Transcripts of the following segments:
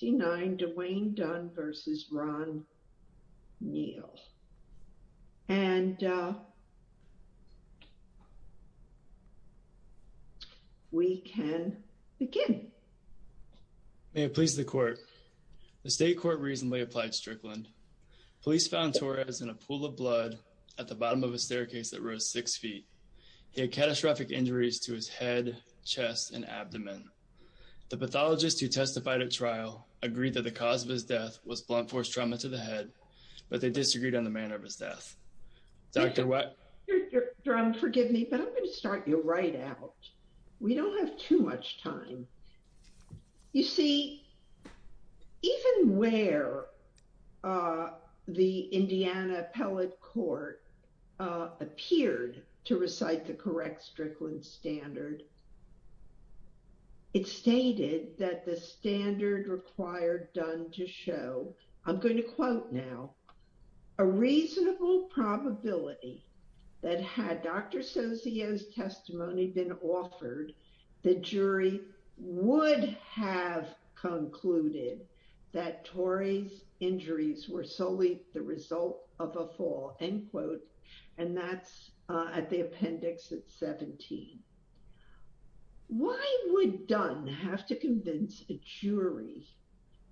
May it please the Court. The State Court recently applied Strickland. Police found Torres in a pool of blood at the bottom of a staircase that rose six feet. He had catastrophic that the cause of his death was blunt force trauma to the head, but they disagreed on the manner of his death. Dr. What? Dr. Dunn, forgive me, but I'm going to start you right out. We don't have too much time. You see, even where the Indiana Appellate Court appeared to recite the correct standard, it stated that the standard required done to show I'm going to quote now a reasonable probability that had Dr. Socio's testimony been offered, the jury would have concluded that Torres injuries were solely the result of a fall, end quote. And that's at the appendix at 17. Why would Dunn have to convince a jury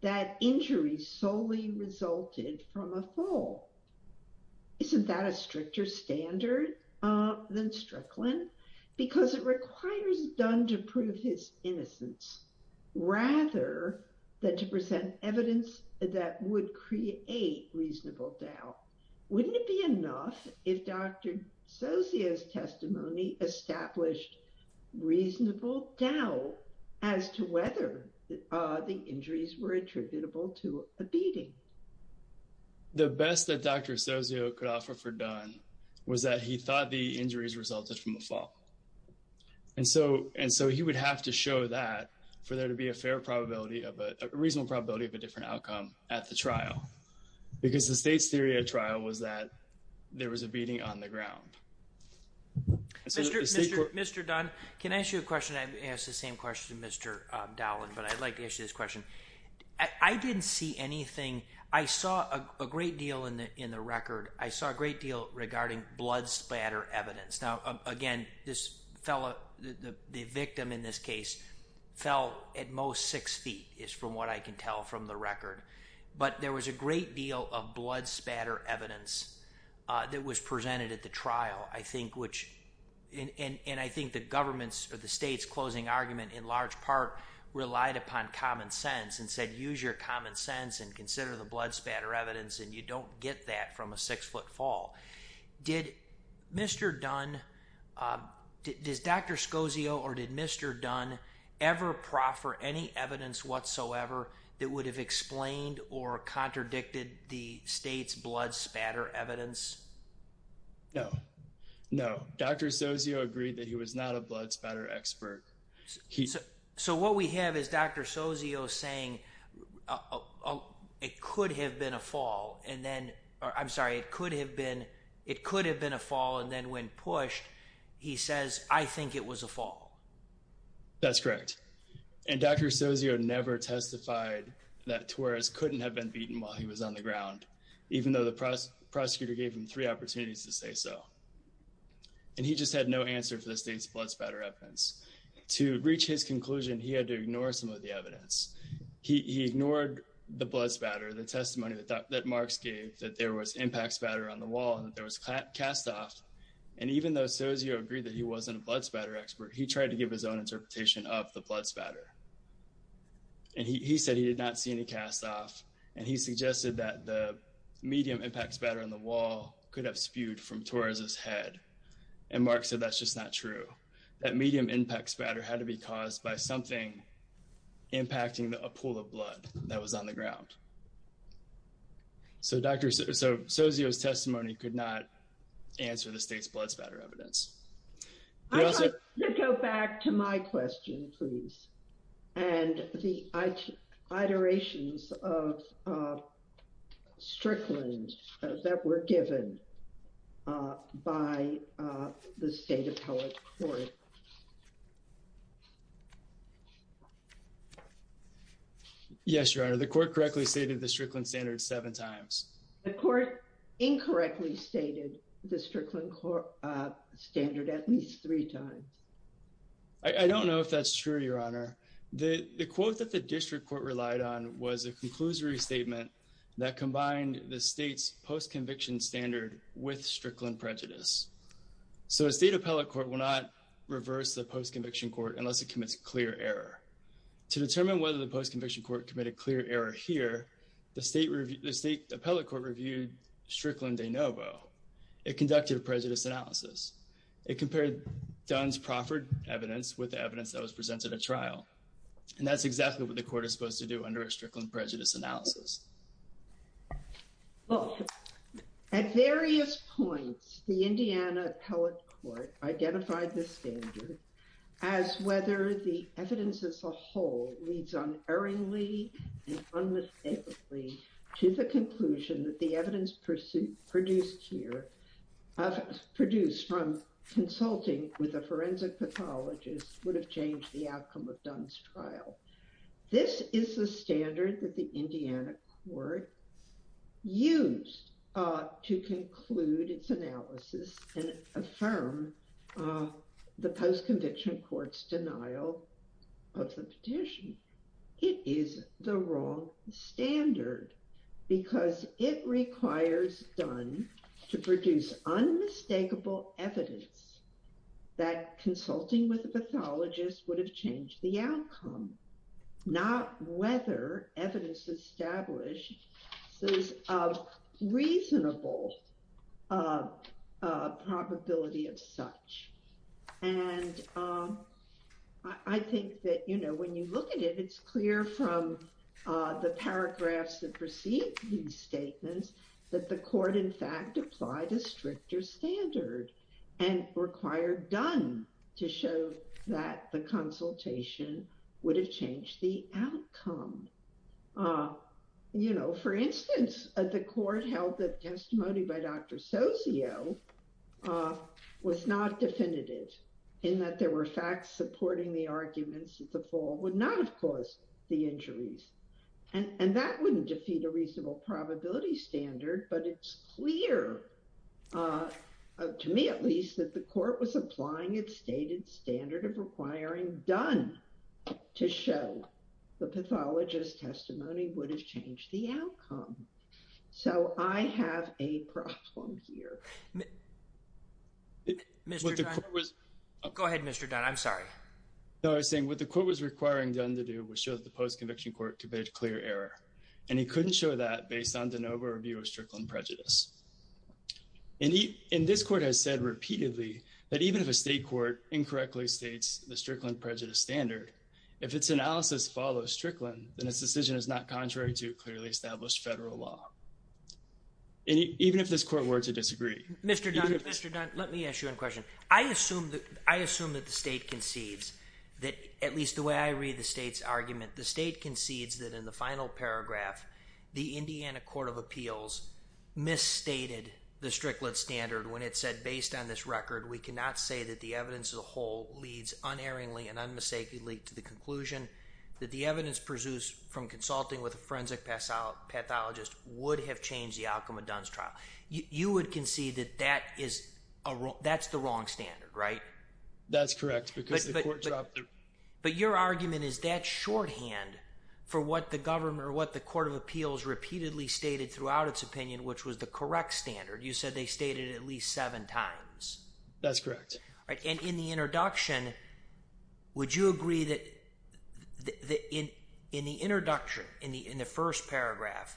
that injuries solely resulted from a fall? Isn't that a stricter standard than Strickland? Because it requires Dunn to prove his innocence rather than to present evidence that would create a reasonable doubt. Wouldn't it be enough if Dr. Socio's testimony established reasonable doubt as to whether the injuries were attributable to a beating? The best that Dr. Socio could offer for Dunn was that he thought the injuries resulted from a fall. And so and so he would have to show that for there to be a fair probability of a reasonable probability of a different outcome at the trial, because the state's theory at trial was that there was a beating on the ground. Mr. Dunn, can I ask you a question? I asked the same question to Mr. Dowland, but I'd like to ask you this question. I didn't see anything. I saw a great deal in the record. I saw a great deal regarding blood spatter evidence. Now again, this fellow, the victim in this case fell at most six feet is from what I can tell from the record. But there was a great deal of blood spatter evidence that was presented at the trial, I think, which and I think the government's or the state's closing argument in large part relied upon common sense and said, use your common sense and consider the blood spatter evidence and you don't get that from a six foot fall. Did Mr. Dunn, does Dr. Socio or did Mr. Dunn ever proffer any evidence whatsoever that would have explained or contradicted the state's blood spatter evidence? No, no. Dr. Socio agreed that he was not a blood spatter expert. So what we have is Dr. Socio saying, it could have been a fall and then, or I'm sorry, it could have been a fall and then when pushed, he says, I think it was a fall. That's correct. And Dr. Socio never testified that Torres couldn't have been beaten while he was on the ground, even though the prosecutor gave him three opportunities to say so. And he just had no answer for the state's blood spatter evidence. To reach his conclusion, he had to ignore some of the evidence. He ignored the blood spatter, the testimony that Marks gave that there was impact spatter on the wall and that there was cast off. And even though Socio agreed that he wasn't a of the blood spatter. And he said he did not see any cast off. And he suggested that the medium impact spatter on the wall could have spewed from Torres's head. And Mark said, that's just not true. That medium impact spatter had to be caused by something impacting a pool of blood that was on the ground. So Socio's testimony could not answer the state's blood spatter evidence. I'd like to go back to my question, please. And the iterations of Strickland that were given by the state appellate court. Yes, Your Honor, the court correctly stated the Strickland standard seven times. The court incorrectly stated the Strickland standard at least three times. I don't know if that's true, Your Honor. The quote that the district court relied on was a conclusory statement that combined the state's post-conviction standard with Strickland prejudice. So a state appellate court will not reverse the post-conviction court unless it commits a clear error. To determine whether the post-conviction court committed clear error here, the state appellate court reviewed Strickland de novo. It conducted a prejudice analysis. It compared Dunn's proffered evidence with the evidence that was presented at trial. And that's exactly what the court is supposed to do under a Strickland prejudice analysis. Well, at various points, the Indiana appellate court identified this standard as whether the evidence as a whole leads unerringly and unmistakably to the conclusion that the evidence produced here, produced from consulting with a forensic pathologist, would have changed the outcome of Dunn's trial. This is the standard that the Indiana court used to conclude its analysis and affirm the post-conviction court's denial of the petition. It is the wrong standard because it requires Dunn to produce unmistakable evidence that consulting with a pathologist would have changed the outcome, not whether evidence establishes a reasonable probability of such. And I think that, you know, when you look at it, it's clear from the paragraphs that precede these statements that the court, in fact, applied a stricter standard and required Dunn to show that the consultation would have changed the outcome. You know, for instance, the court held that testimony by Dr. Socio was not definitive, in that there were facts supporting the arguments that the fall would not have caused the injuries. And that wouldn't defeat a reasonable probability standard, but it's clear, to me at least, that the court was applying its stated standard of requiring Dunn to show the pathologist's testimony would have changed the outcome. So I have a problem here. Go ahead, Mr. Dunn. I'm sorry. No, I was saying what the court was requiring Dunn to do was show that the post-conviction court committed a clear error, and he couldn't show that based on de novo review of Strickland prejudice. And this court has said repeatedly that even if a state court incorrectly states the Strickland prejudice standard, if its analysis follows Strickland, then its decision is not contrary to clearly established federal law. Even if this court were to disagree. Mr. Dunn, let me ask you a question. I assume that the state concedes that, at least the way I read the state's argument, the state concedes that in the final paragraph, the Indiana Court of Appeals misstated the Strickland standard when it said, based on this record, we cannot say that evidence as a whole leads unerringly and unmistakably to the conclusion that the evidence pursues from consulting with a forensic pathologist would have changed the outcome of Dunn's trial. You would concede that that's the wrong standard, right? That's correct. But your argument is that shorthand for what the government or what the Court of Appeals repeatedly stated throughout its opinion, which was the correct standard. You said they stated at least seven times. That's correct. And in the introduction, would you agree that in the introduction, in the first paragraph,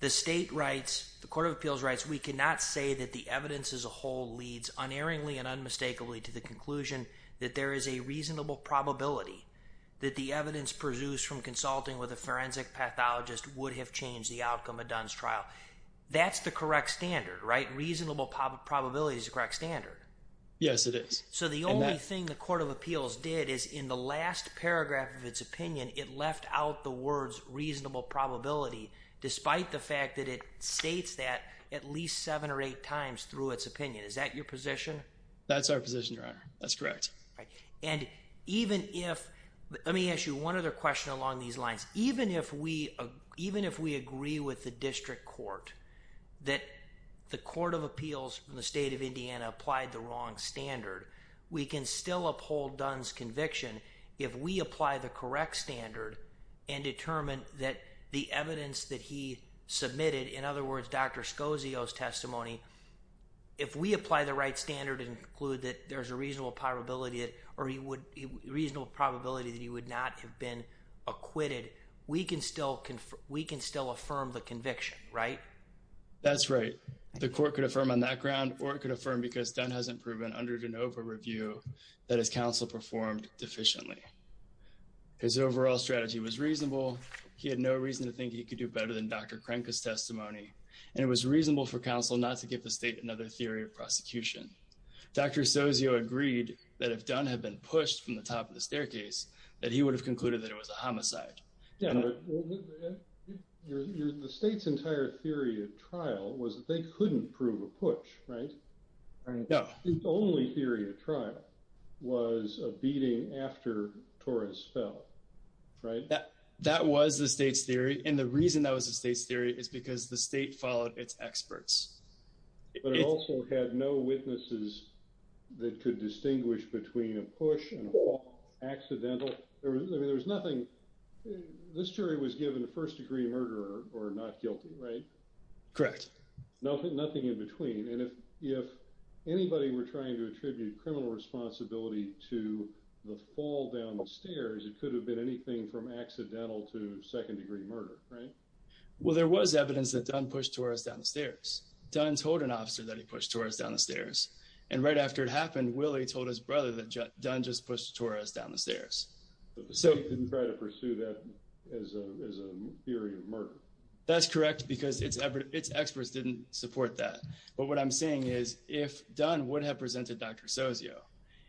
the state writes, the Court of Appeals writes, we cannot say that the evidence as a whole leads unerringly and unmistakably to the conclusion that there is a reasonable probability that the evidence pursues from consulting with a forensic pathologist would have changed the outcome of Dunn's trial. That's the correct standard, right? Reasonable probability is correct standard. Yes, it is. So the only thing the Court of Appeals did is in the last paragraph of its opinion, it left out the words reasonable probability, despite the fact that it states that at least seven or eight times through its opinion. Is that your position? That's our position, Your Honor. That's correct. All right. And even if, let me ask you one other question along these lines. Even if we agree with the district court that the Court of Appeals from the state of Indiana applied the wrong standard, we can still uphold Dunn's conviction if we apply the correct standard and determine that the evidence that he submitted, in other words, Dr. Scosio's testimony, if we apply the right standard and conclude that there's a reasonable probability or a reasonable probability that he would not have been acquitted, we can still affirm the conviction, right? That's right. The Court could affirm on that ground or it could affirm because Dunn hasn't proven under de novo review that his counsel performed deficiently. His overall strategy was reasonable. He had no reason to think he could do better than Dr. Crenca's testimony. And it was reasonable for counsel not to give the state another theory of prosecution. Dr. Scosio agreed that if Dunn had been pushed from the top of the staircase, that he would have concluded that it was a homicide. Yeah, but the state's entire theory of trial was that they couldn't prove a push, right? No. The only theory of trial was a beating after Torres fell, right? That was the state's theory. And the reason that was the state's theory is because the state followed its experts. But it also had no witnesses that could distinguish between a push and a fall accidental. This jury was given a first degree murderer or not guilty, right? Correct. Nothing in between. And if anybody were trying to attribute criminal responsibility to the fall down the stairs, it could have been anything from accidental to second degree murder, right? Well, there was evidence that Dunn pushed Torres down the stairs. Dunn told an officer that he pushed Torres down the stairs. And right after it happened, Willie told his brother that Dunn just pushed Torres down the stairs. But the state didn't try to pursue that as a theory of murder. That's correct, because its experts didn't support that. But what I'm saying is, if Dunn would have presented Dr. Scosio,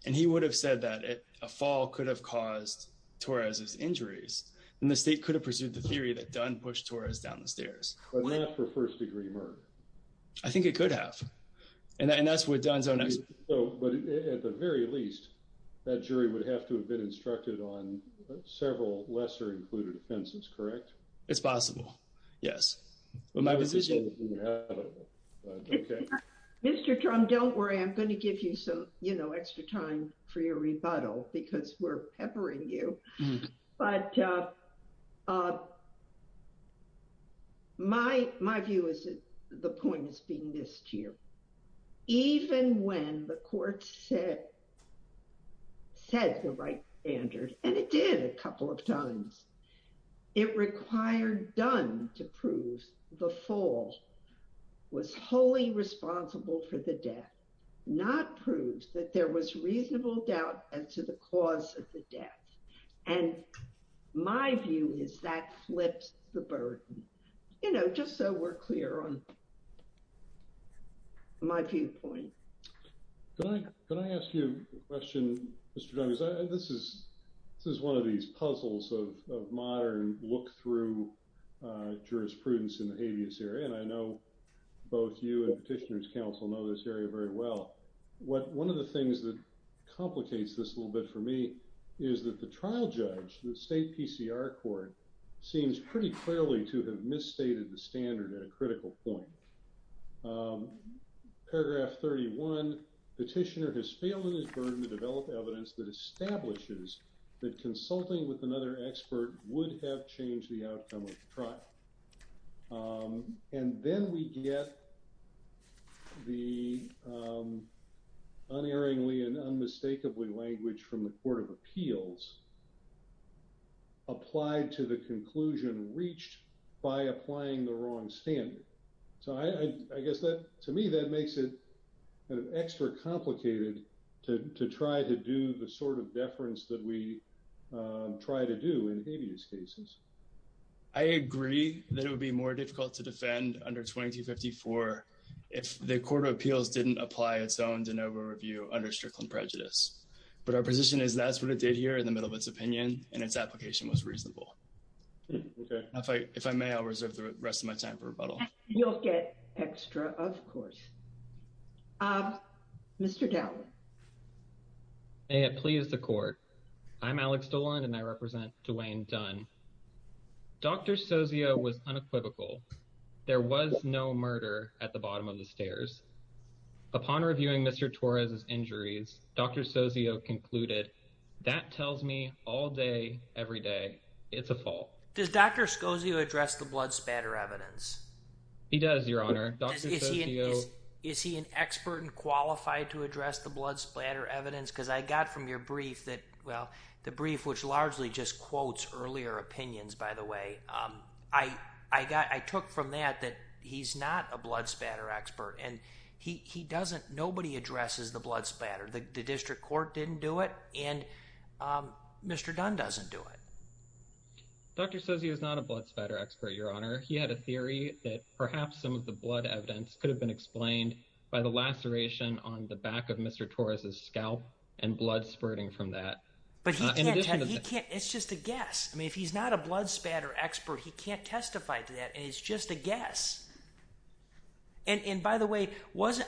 and he would have said that a fall could have caused Torres's injuries, then the state could have pursued the theory that Dunn pushed Torres down the stairs. But not for first degree murder. I think it could have. And that's what Dunn's own... But at the very least, that jury would have to have been instructed on several lesser included offenses, correct? It's possible, yes. Mr. Trump, don't worry, I'm going to give you some, you know, extra time for your rebuttal because we're peppering you. But my view is that the point is being missed here. Even when the court said the right standard, and it did a couple of times, it required Dunn to prove the fall was wholly responsible for the death, not prove that there was reasonable doubt as to the cause of the death. And my view is that flips the burden. You know, just so we're clear on my viewpoint. Can I ask you a question, Mr. Dunn? This is one of these puzzles of modern look through jurisprudence in the habeas area. And I know both you and Petitioner's Council know this area very well. One of the things that complicates this a little bit for me is that the trial judge, the state PCR court, seems pretty clearly to have misstated the standard at a critical point. Paragraph 31, Petitioner has failed in his burden to develop evidence that establishes that consulting with another expert would have changed the outcome of the trial. And then we get the unerringly and unmistakably language from the Court of Appeals applied to the conclusion reached by applying the wrong standard. So I guess that to me, that makes it extra complicated to try to do the sort of deference that we try to do in habeas cases. I agree that it would be more difficult to defend under 2254 if the Court of Appeals didn't apply its own de novo review under Strickland prejudice. But our position is that's what it did here in the middle of its opinion, and its application was reasonable. If I may, I'll reserve the rest of my time for rebuttal. You'll get extra, of course. Mr. Dowling. May it please the Court. I'm Alex Dolan, and I represent Delaine Dunn. Dr. Sozio was unequivocal. There was no murder at the bottom of the stairs. Upon reviewing Mr. Torres' injuries, Dr. Sozio concluded, that tells me all day, every day, it's a fault. Does Dr. Scozio address the blood spatter evidence? He does, Your Honor. Is he an expert and qualified to address the blood splatter evidence? Because I got from your brief that, well, the brief which largely just quotes earlier opinions, by the way, I got, I took from that that he's not a blood spatter expert, and he doesn't, nobody addresses the blood spatter. The district court didn't do it, and Mr. Dunn doesn't do it. Dr. Sozio is not a blood spatter expert, Your Honor. He had a theory that perhaps some of the blood evidence could have been explained by the laceration on the back of Mr. Torres' scalp and blood spurting from that. But he can't, it's just a guess. If he's not a blood spatter expert, he can't testify to that, and it's just a guess. And by the way,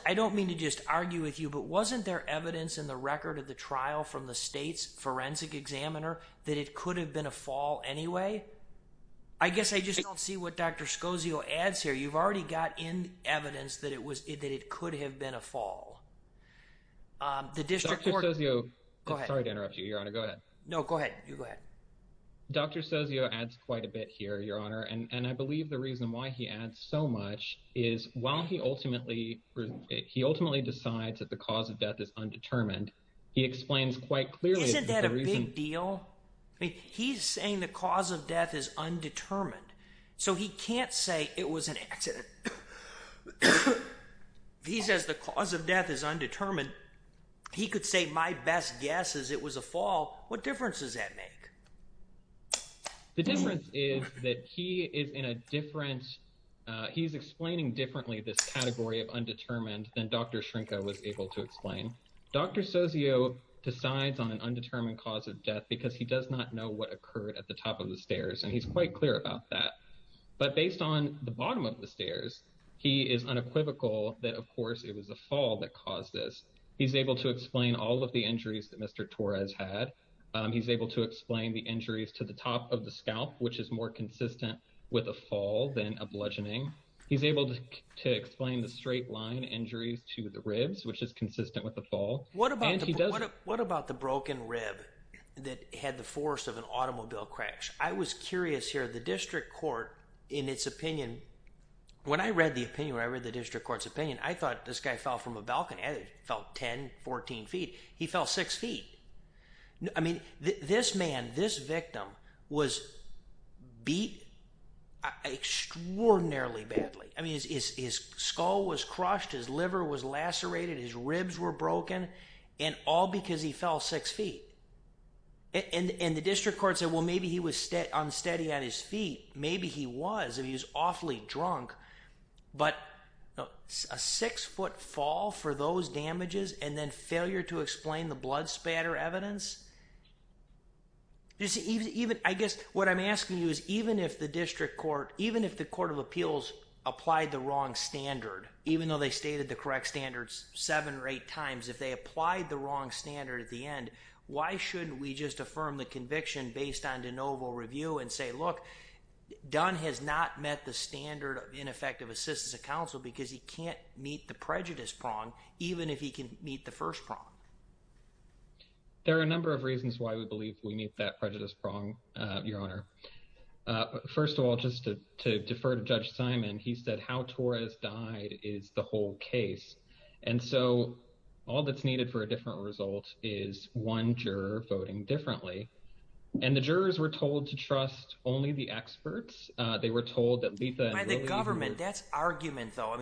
I don't mean to just argue with you, but wasn't there evidence in the record of the trial from the state's forensic examiner that it could have been a fall anyway? I guess I just don't see what Dr. Sozio adds here. You've already got in evidence that it could have been a fall. The district court- Dr. Sozio, I'm sorry to interrupt you, Your Honor. Go ahead. No, go ahead. You go ahead. Dr. Sozio adds quite a bit here, Your Honor, and I believe the reason why he adds so much is while he ultimately decides that the cause of death is undetermined, he explains quite clearly- Isn't that a big deal? He's saying the cause of death is undetermined, so he can't say it was an accident. He says the cause of death is undetermined. He could say my best guess is it was a fall. What difference does that make? The difference is that he is in a different- he's explaining differently this category of undetermined than Dr. Shrinka was able to explain. Dr. Sozio decides on an undetermined cause of death because he does not know what occurred at the top of the stairs, and he's quite clear about that, but based on the bottom of the stairs, he is unequivocal that, of course, it was a fall that caused this. He's able to explain all of the injuries that Mr. Torres had. He's able to explain the injuries to the top of the scalp, which is more consistent with a fall than a bludgeoning. He's able to explain the straight line injuries to the ribs, which is consistent with a fall. What about the broken rib that had the force of an automobile crash? I was curious here. The district court, in its opinion- when I read the opinion, when I read the district court's opinion, I thought this guy fell from a balcony. I thought he fell 10, 14 feet. He fell six feet. I mean, this man, this victim was beat extraordinarily badly. I mean, his skull was crushed. His liver was lacerated. His ribs were broken, and all because he fell six feet. And the district court said, well, maybe he was unsteady on his feet. Maybe he was, and he was awfully drunk, but a six-foot fall for those damages and then failure to explain the blood spatter evidence. I guess what I'm asking you is, even if the district court, even if the court of appeals applied the wrong standard, even though they stated the correct standards seven or eight times, if they applied the wrong standard at the end, why shouldn't we just affirm the conviction based on de novo review and say, look, Dunn has not met the standard of ineffective assistance of counsel because he can't meet the prejudice prong, even if he can meet the first prong? There are a number of reasons why we believe we meet that prejudice prong, your honor. First of all, just to defer to Judge Simon, he said how Torres died is the whole case. And so all that's needed for a different result is one juror voting differently. And the jurors were told to trust only the experts. They were told that... By the government, that's argument though.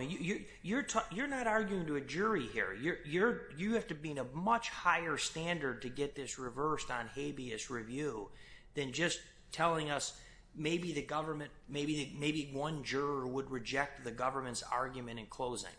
You're not arguing to a jury here. You have to be in a much higher standard to get this reversed on habeas review than just telling us maybe the government, maybe one juror would reject the government's argument in closing.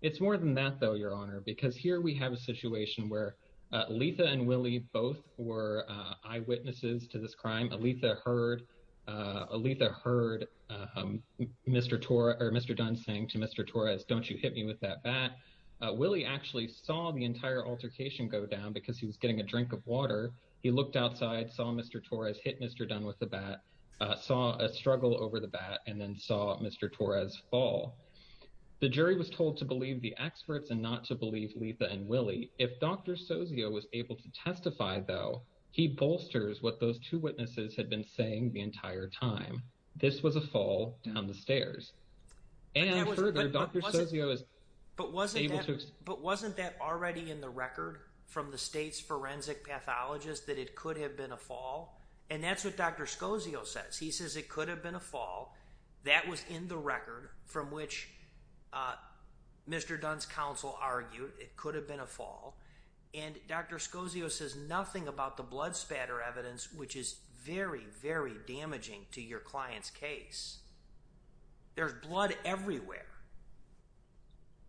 It's more than that though, your honor, because here we have a situation where Aletha and Willie both were eyewitnesses to this crime. Aletha heard Mr. Torres or Mr. Dunn saying to Mr. Torres, don't you hit me with that bat. Willie actually saw the entire altercation go down because he was getting a drink of water. He looked outside, saw Mr. Torres hit Mr. Dunn with the bat, saw a struggle over the bat and then saw Mr. Torres fall. The jury was told to believe the experts and not to believe Aletha and Willie. If Dr. Sozio was able to testify though, he bolsters what those two witnesses had been saying the entire time. This was a fall down the stairs. And further, Dr. Sozio is able to- But wasn't that already in the record from the state's forensic pathologist that it could have been a fall? And that's what Dr. Sozio says. He says it could have been a fall. That was in the record from which Mr. Dunn's counsel argued it could have been a fall. And Dr. Sozio says nothing about the blood spatter evidence, which is very, very damaging to your client's case. There's blood everywhere.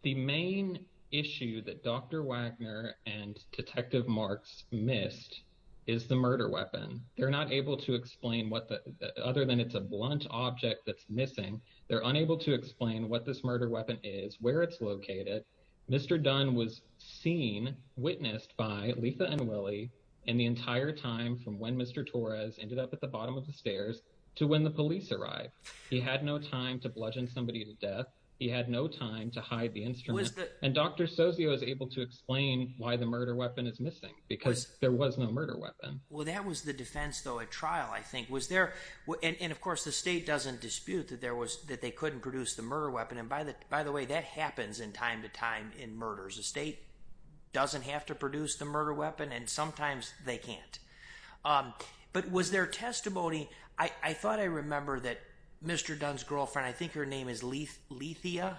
The main issue that Dr. Wagner and Detective Marks missed is the murder weapon. They're not able to explain what the- other than it's a blunt object that's missing, they're unable to explain what this murder weapon is, where it's located. Mr. Dunn was seen, witnessed by Letha and Willie in the entire time from when Mr. Torres ended up at the bottom of the stairs to when the police arrived. He had no time to bludgeon somebody to death. He had no time to hide the instrument. And Dr. Sozio is able to explain why the murder weapon is missing because there was no murder weapon. Well, that was the defense though at trial, I think. And of course, the state doesn't dispute that there was- that they couldn't produce the murder weapon. By the way, that happens in time to time in murders. The state doesn't have to produce the murder weapon and sometimes they can't. But was there testimony- I thought I remember that Mr. Dunn's girlfriend, I think her name is Lethea,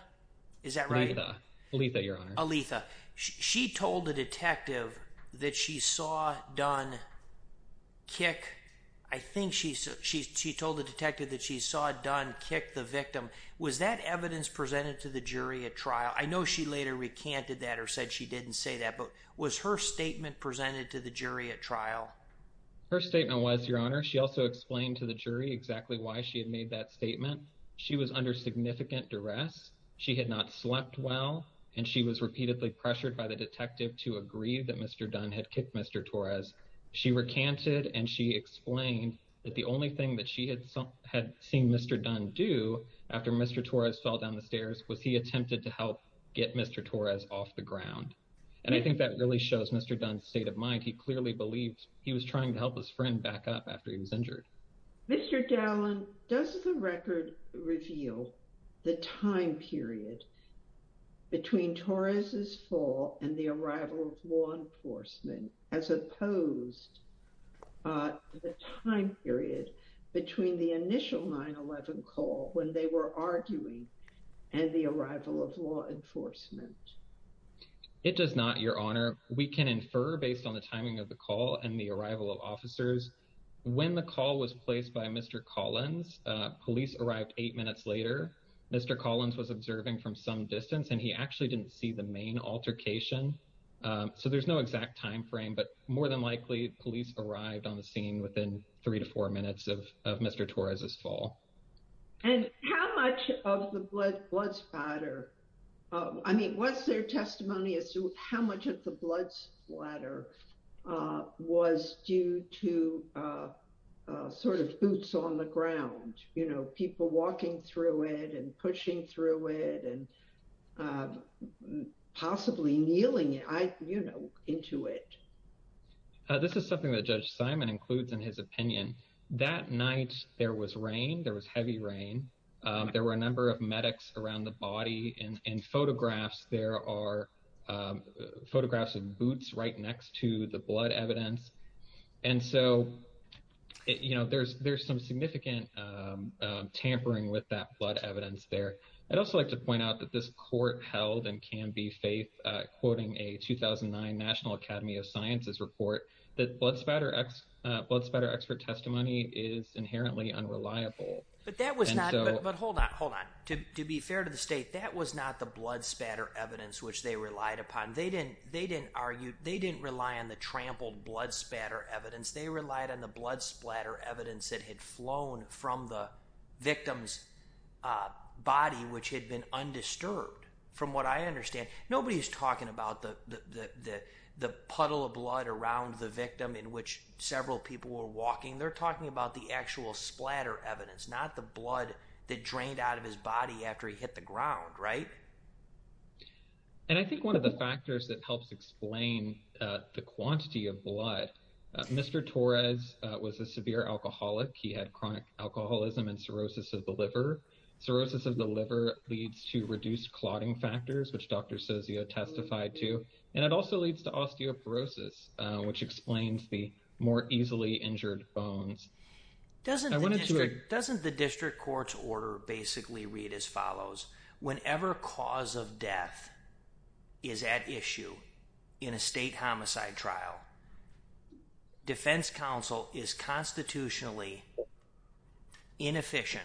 is that right? Letha. Letha, Your Honor. Letha. She told the detective that she saw Dunn kick- I think she told the detective that she saw Dunn kick the victim. Was that evidence presented to the jury at trial? I know she later recanted that or said she didn't say that, but was her statement presented to the jury at trial? Her statement was, Your Honor. She also explained to the jury exactly why she had made that statement. She was under significant duress. She had not slept well. And she was repeatedly pressured by the detective to agree that Mr. Dunn had kicked Mr. Torres. She recanted and she explained that the only thing that she had seen Mr. Dunn do after Mr. Torres fell down the stairs was he attempted to help get Mr. Torres off the ground. And I think that really shows Mr. Dunn's state of mind. He clearly believed he was trying to help his friend back up after he was injured. Mr. Gallin, does the record reveal the time period between Torres's fall and the arrival of law enforcement as opposed to the time period between the initial 9-11 call when they were arguing and the arrival of law enforcement? It does not, Your Honor. We can infer based on the timing of the call and the arrival of officers. When the call was placed by Mr. Collins, police arrived eight minutes later. Mr. Collins was observing from some distance and he actually didn't see the main altercation. So there's no exact timeframe, but more than likely police arrived on the scene within three to four minutes of Mr. Torres's fall. And how much of the blood splatter, I mean, what's their testimony as to how much of the blood splatter was due to sort of boots on the ground, you know, people walking through it and pushing through it and possibly kneeling, you know, into it? This is something that Judge Simon includes in his opinion. That night, there was rain, there was heavy rain. There were a number of medics around the body and in photographs, there are photographs of boots right next to the blood evidence. And so, you know, there's some significant tampering with that blood evidence there. I'd also like to point out that this court held and can be faith quoting a 2009 National Academy of Sciences report that blood splatter expert testimony is inherently unreliable. But that was not, but hold on, hold on. To be fair to the state, that was not the blood splatter evidence which they relied upon. They didn't argue, they didn't rely on the trampled blood splatter evidence. They relied on the blood splatter evidence that had flown from the victim's body, which had been undisturbed. From what I understand, nobody's talking about the puddle of blood around the victim in which several people were walking. They're talking about the actual splatter evidence, not the blood that drained out of his body after he hit the ground, right? And I think one of the factors that helps explain the quantity of blood, Mr. Torres was a severe alcoholic. He had chronic alcoholism and cirrhosis of the liver. Cirrhosis of the liver leads to reduced clotting factors, which Dr. Sozio testified to. And it also leads to osteoporosis, which explains the more easily injured bones. Doesn't the district court's order basically read as follows. Whenever cause of death is at issue in a state homicide trial, defense counsel is constitutionally inefficient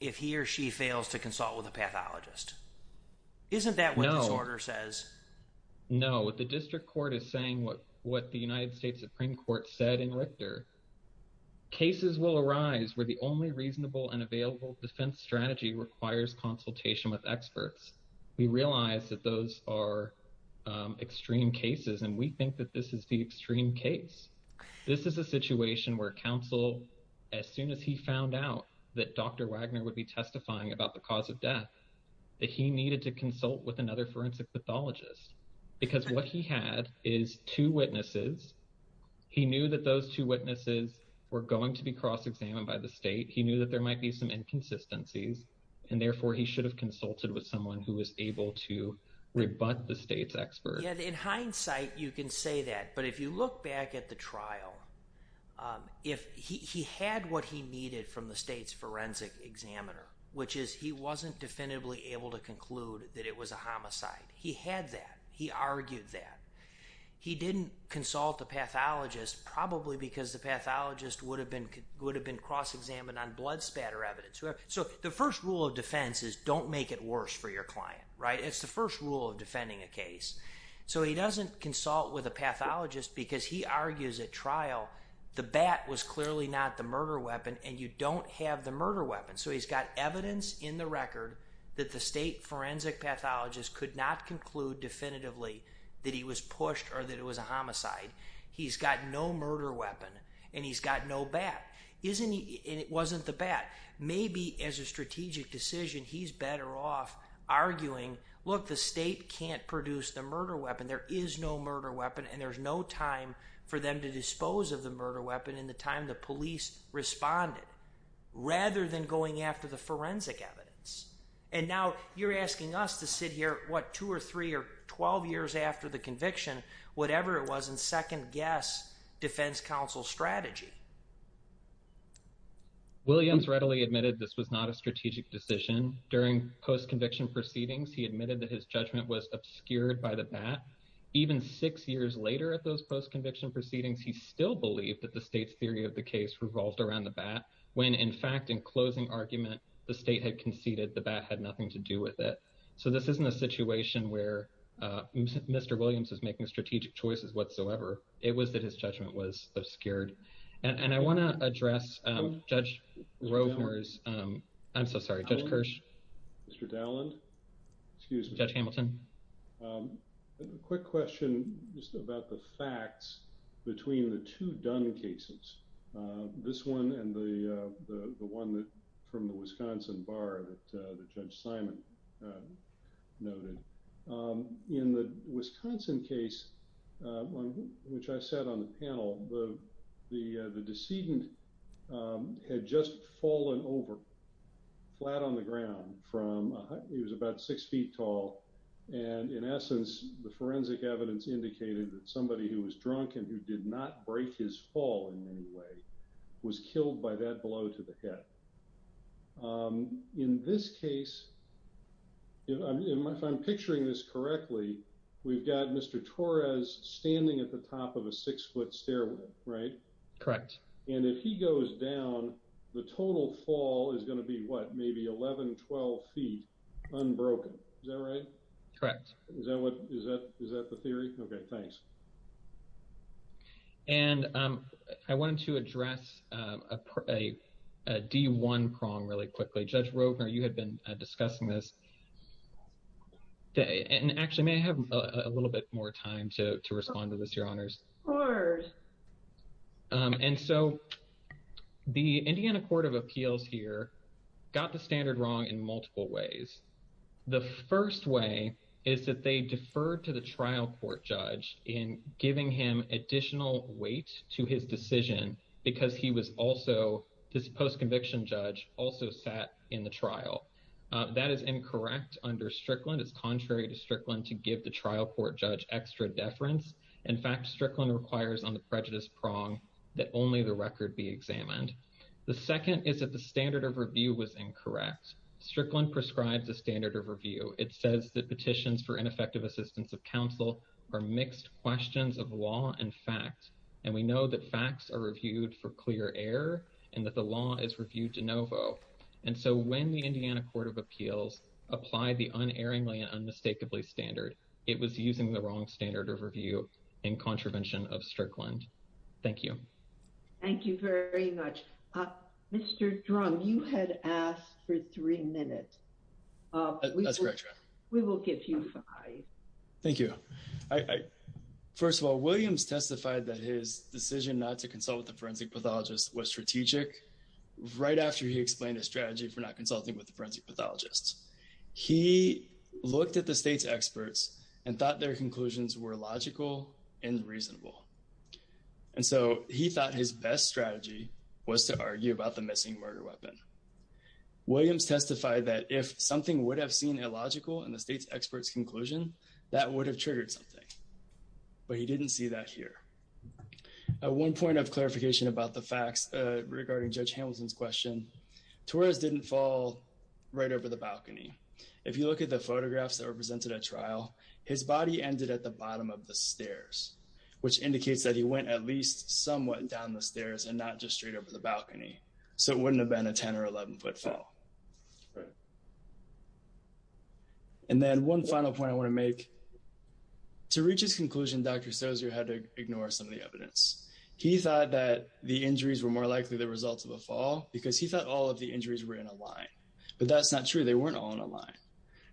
if he or she fails to consult with a pathologist. Isn't that what this order says? No, what the district court is saying, what the United States Supreme Court said in Richter, cases will arise where the only reasonable and available defense strategy requires consultation with experts. We realize that those are extreme cases and we think that this is the extreme case. This is a situation where counsel, as soon as he found out that Dr. Wagner would be testifying about the cause of death, that he needed to consult with another forensic pathologist. Because what he had is two witnesses. He knew that those two witnesses were going to be cross-examined by the state. He knew that there might be some inconsistencies and therefore he should have consulted with someone who was able to rebut the state's expert. Yeah, in hindsight, you can say that. But if you look back at the trial, if he had what he needed from the state's forensic examiner, which is he wasn't definitively able to conclude that it was a homicide. He had that, he argued that. He didn't consult a pathologist probably because the pathologist would have been cross-examined on blood spatter evidence. So the first rule of defense is don't make it worse for your client, right? It's the first rule of defending a case. So he doesn't consult with a pathologist because he argues at trial, the bat was clearly not the murder weapon and you don't have the murder weapon. So he's got evidence in the record that the state forensic pathologist could not conclude definitively that he was pushed or that it was a homicide. He's got no murder weapon and he's got no bat. And it wasn't the bat. Maybe as a strategic decision, he's better off arguing, look, the state can't produce the murder weapon. There is no murder weapon and there's no time for them to dispose of the murder weapon in the time the police responded rather than going after the forensic evidence. And now you're asking us to sit here, what, two or three or 12 years after the conviction, whatever it was in second guess defense counsel strategy. Williams readily admitted this was not a strategic decision. During post-conviction proceedings, he admitted that his judgment was obscured by the bat. Even six years later at those post-conviction proceedings, he still believed that the state's theory of the case revolved around the bat. When in fact, in closing argument, the state had conceded the bat had nothing to do with it. So this isn't a situation where Mr. Williams is making strategic choices whatsoever. It was that his judgment was obscured. And I wanna address Judge Rovner's, I'm so sorry, Judge Kirsch. Mr. Dowland, excuse me. Judge Hamilton. Quick question just about the facts between the two Dunn cases, this one and the one that from the Wisconsin bar that Judge Simon noted. In the Wisconsin case, which I said on the panel, the decedent had just fallen over flat on the ground from, he was about six feet tall. And in essence, the forensic evidence indicated that somebody who was drunk and who did not break his fall in any way was killed by that blow to the head. In this case, if I'm picturing this correctly, we've got Mr. Torres standing at the top of a six foot stairwell, right? Correct. And if he goes down, the total fall is gonna be what? Maybe 11, 12 feet unbroken. Is that right? Correct. Is that what, is that the theory? Okay, thanks. And I wanted to address a D1 prong really quickly. Judge Rogner, you had been discussing this. And actually, may I have a little bit more time to respond to this, your honors? Sure. And so the Indiana Court of Appeals here got the standard wrong in multiple ways. The first way is that they deferred to the trial court judge in giving him additional weight to his decision because he was also, this post-conviction judge also sat in the trial. That is incorrect under Strickland. It's contrary to Strickland to give the trial court judge extra deference. In fact, Strickland requires on the prejudice prong that only the record be examined. The second is that the standard of review was incorrect. Strickland prescribes a standard of review. It says that petitions for ineffective assistance of counsel are mixed questions of law and facts. And we know that facts are reviewed for clear error and that the law is reviewed de novo. And so when the Indiana Court of Appeals applied the unerringly and unmistakably standard, it was using the wrong standard of review in contravention of Strickland. Thank you. Thank you very much. Mr. Drum, you had asked for three minutes. That's correct, Your Honor. We will give you five. Thank you. First of all, Williams testified that his decision not to consult with the forensic pathologist was strategic right after he explained a strategy for not consulting with the forensic pathologist. He looked at the state's experts and thought their conclusions were logical and reasonable. And so he thought his best strategy was to argue about the missing murder weapon. Williams testified that if something would have seen illogical in the state's expert's conclusion, that would have triggered something. But he didn't see that here. At one point of clarification about the facts regarding Judge Hamilton's question, Torres didn't fall right over the balcony. If you look at the photographs that were presented at trial, his body ended at the bottom of the stairs, which indicates that he went at least somewhat down the stairs and not just straight over the balcony. So it wouldn't have been a 10 or 11 foot fall. And then one final point I want to make. To reach his conclusion, Dr. Sozio had to ignore some of the evidence. He thought that the injuries were more likely the result of a fall because he thought all of the injuries were in a line. But that's not true. They weren't all in a line.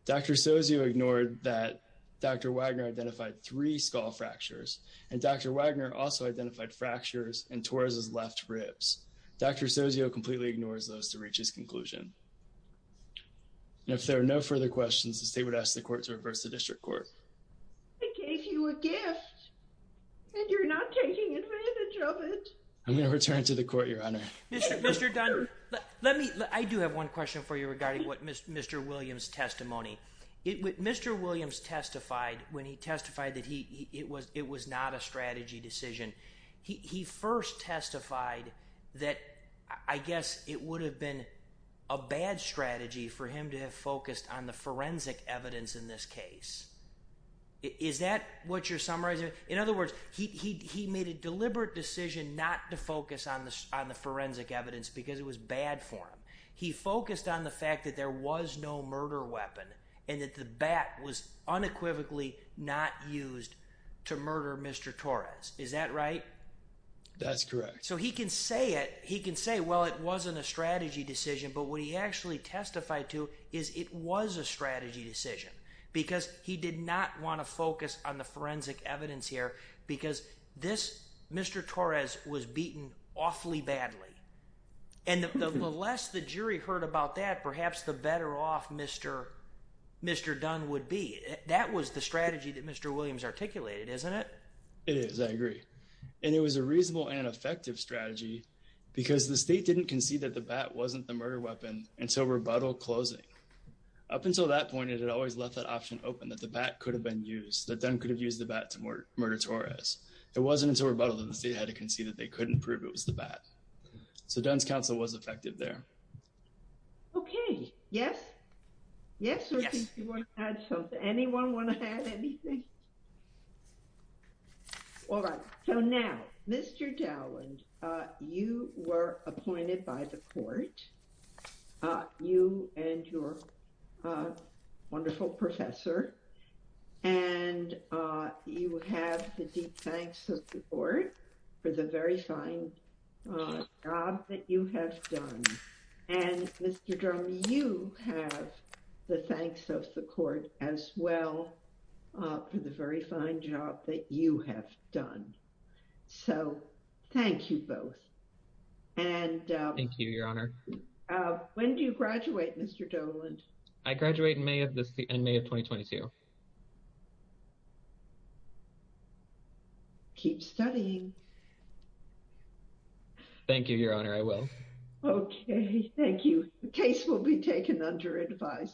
Dr. Sozio ignored that Dr. Wagner identified three skull fractures and Dr. Wagner also identified fractures in Torres's left ribs. Dr. Sozio completely ignores those to reach his conclusion. And if there are no further questions, the state would ask the court to reverse the district court. I gave you a gift and you're not taking advantage of it. I'm going to return to the court, Your Honor. Mr. Dunn, let me, I do have one question for you regarding what Mr. Williams' testimony. Mr. Williams testified when he testified that it was not a strategy decision. He first testified that I guess it would have been a bad strategy for him to have focused on the forensic evidence in this case. Is that what you're summarizing? In other words, he made a deliberate decision not to focus on the forensic evidence because it was bad for him. He focused on the fact that there was no murder weapon and that the bat was unequivocally not used to murder Mr. Torres. Is that right? That's correct. So he can say it. He can say, well, it wasn't a strategy decision, but what he actually testified to is it was a strategy decision because he did not want to focus on the forensic evidence here because this Mr. Torres was beaten awfully badly. And the less the jury heard about that, perhaps the better off Mr. Dunn would be. That was the strategy that Mr. Williams articulated, isn't it? It is, I agree. And it was a reasonable and effective strategy because the state didn't concede that the bat wasn't the murder weapon until rebuttal closing. Up until that point, it had always left that option open that the bat could have been used, that Dunn could have used the bat to murder Torres. It wasn't until rebuttal that the state had to concede that they couldn't prove it was the bat. So Dunn's counsel was effective there. Okay, yes? Yes, or do you want to add something? Anyone want to add anything? All right. So now, Mr. Dowland, you were appointed by the court, you and your wonderful professor, and you have the deep thanks of the court for the very fine job that you have done. And Mr. Drum, you have the thanks of the court as well for the very fine job that you have done. So thank you both. Thank you, Your Honor. When do you graduate, Mr. Dowland? I graduate in May of 2022. Keep studying. Thank you, Your Honor, I will. Okay, thank you. The case will be taken under advice.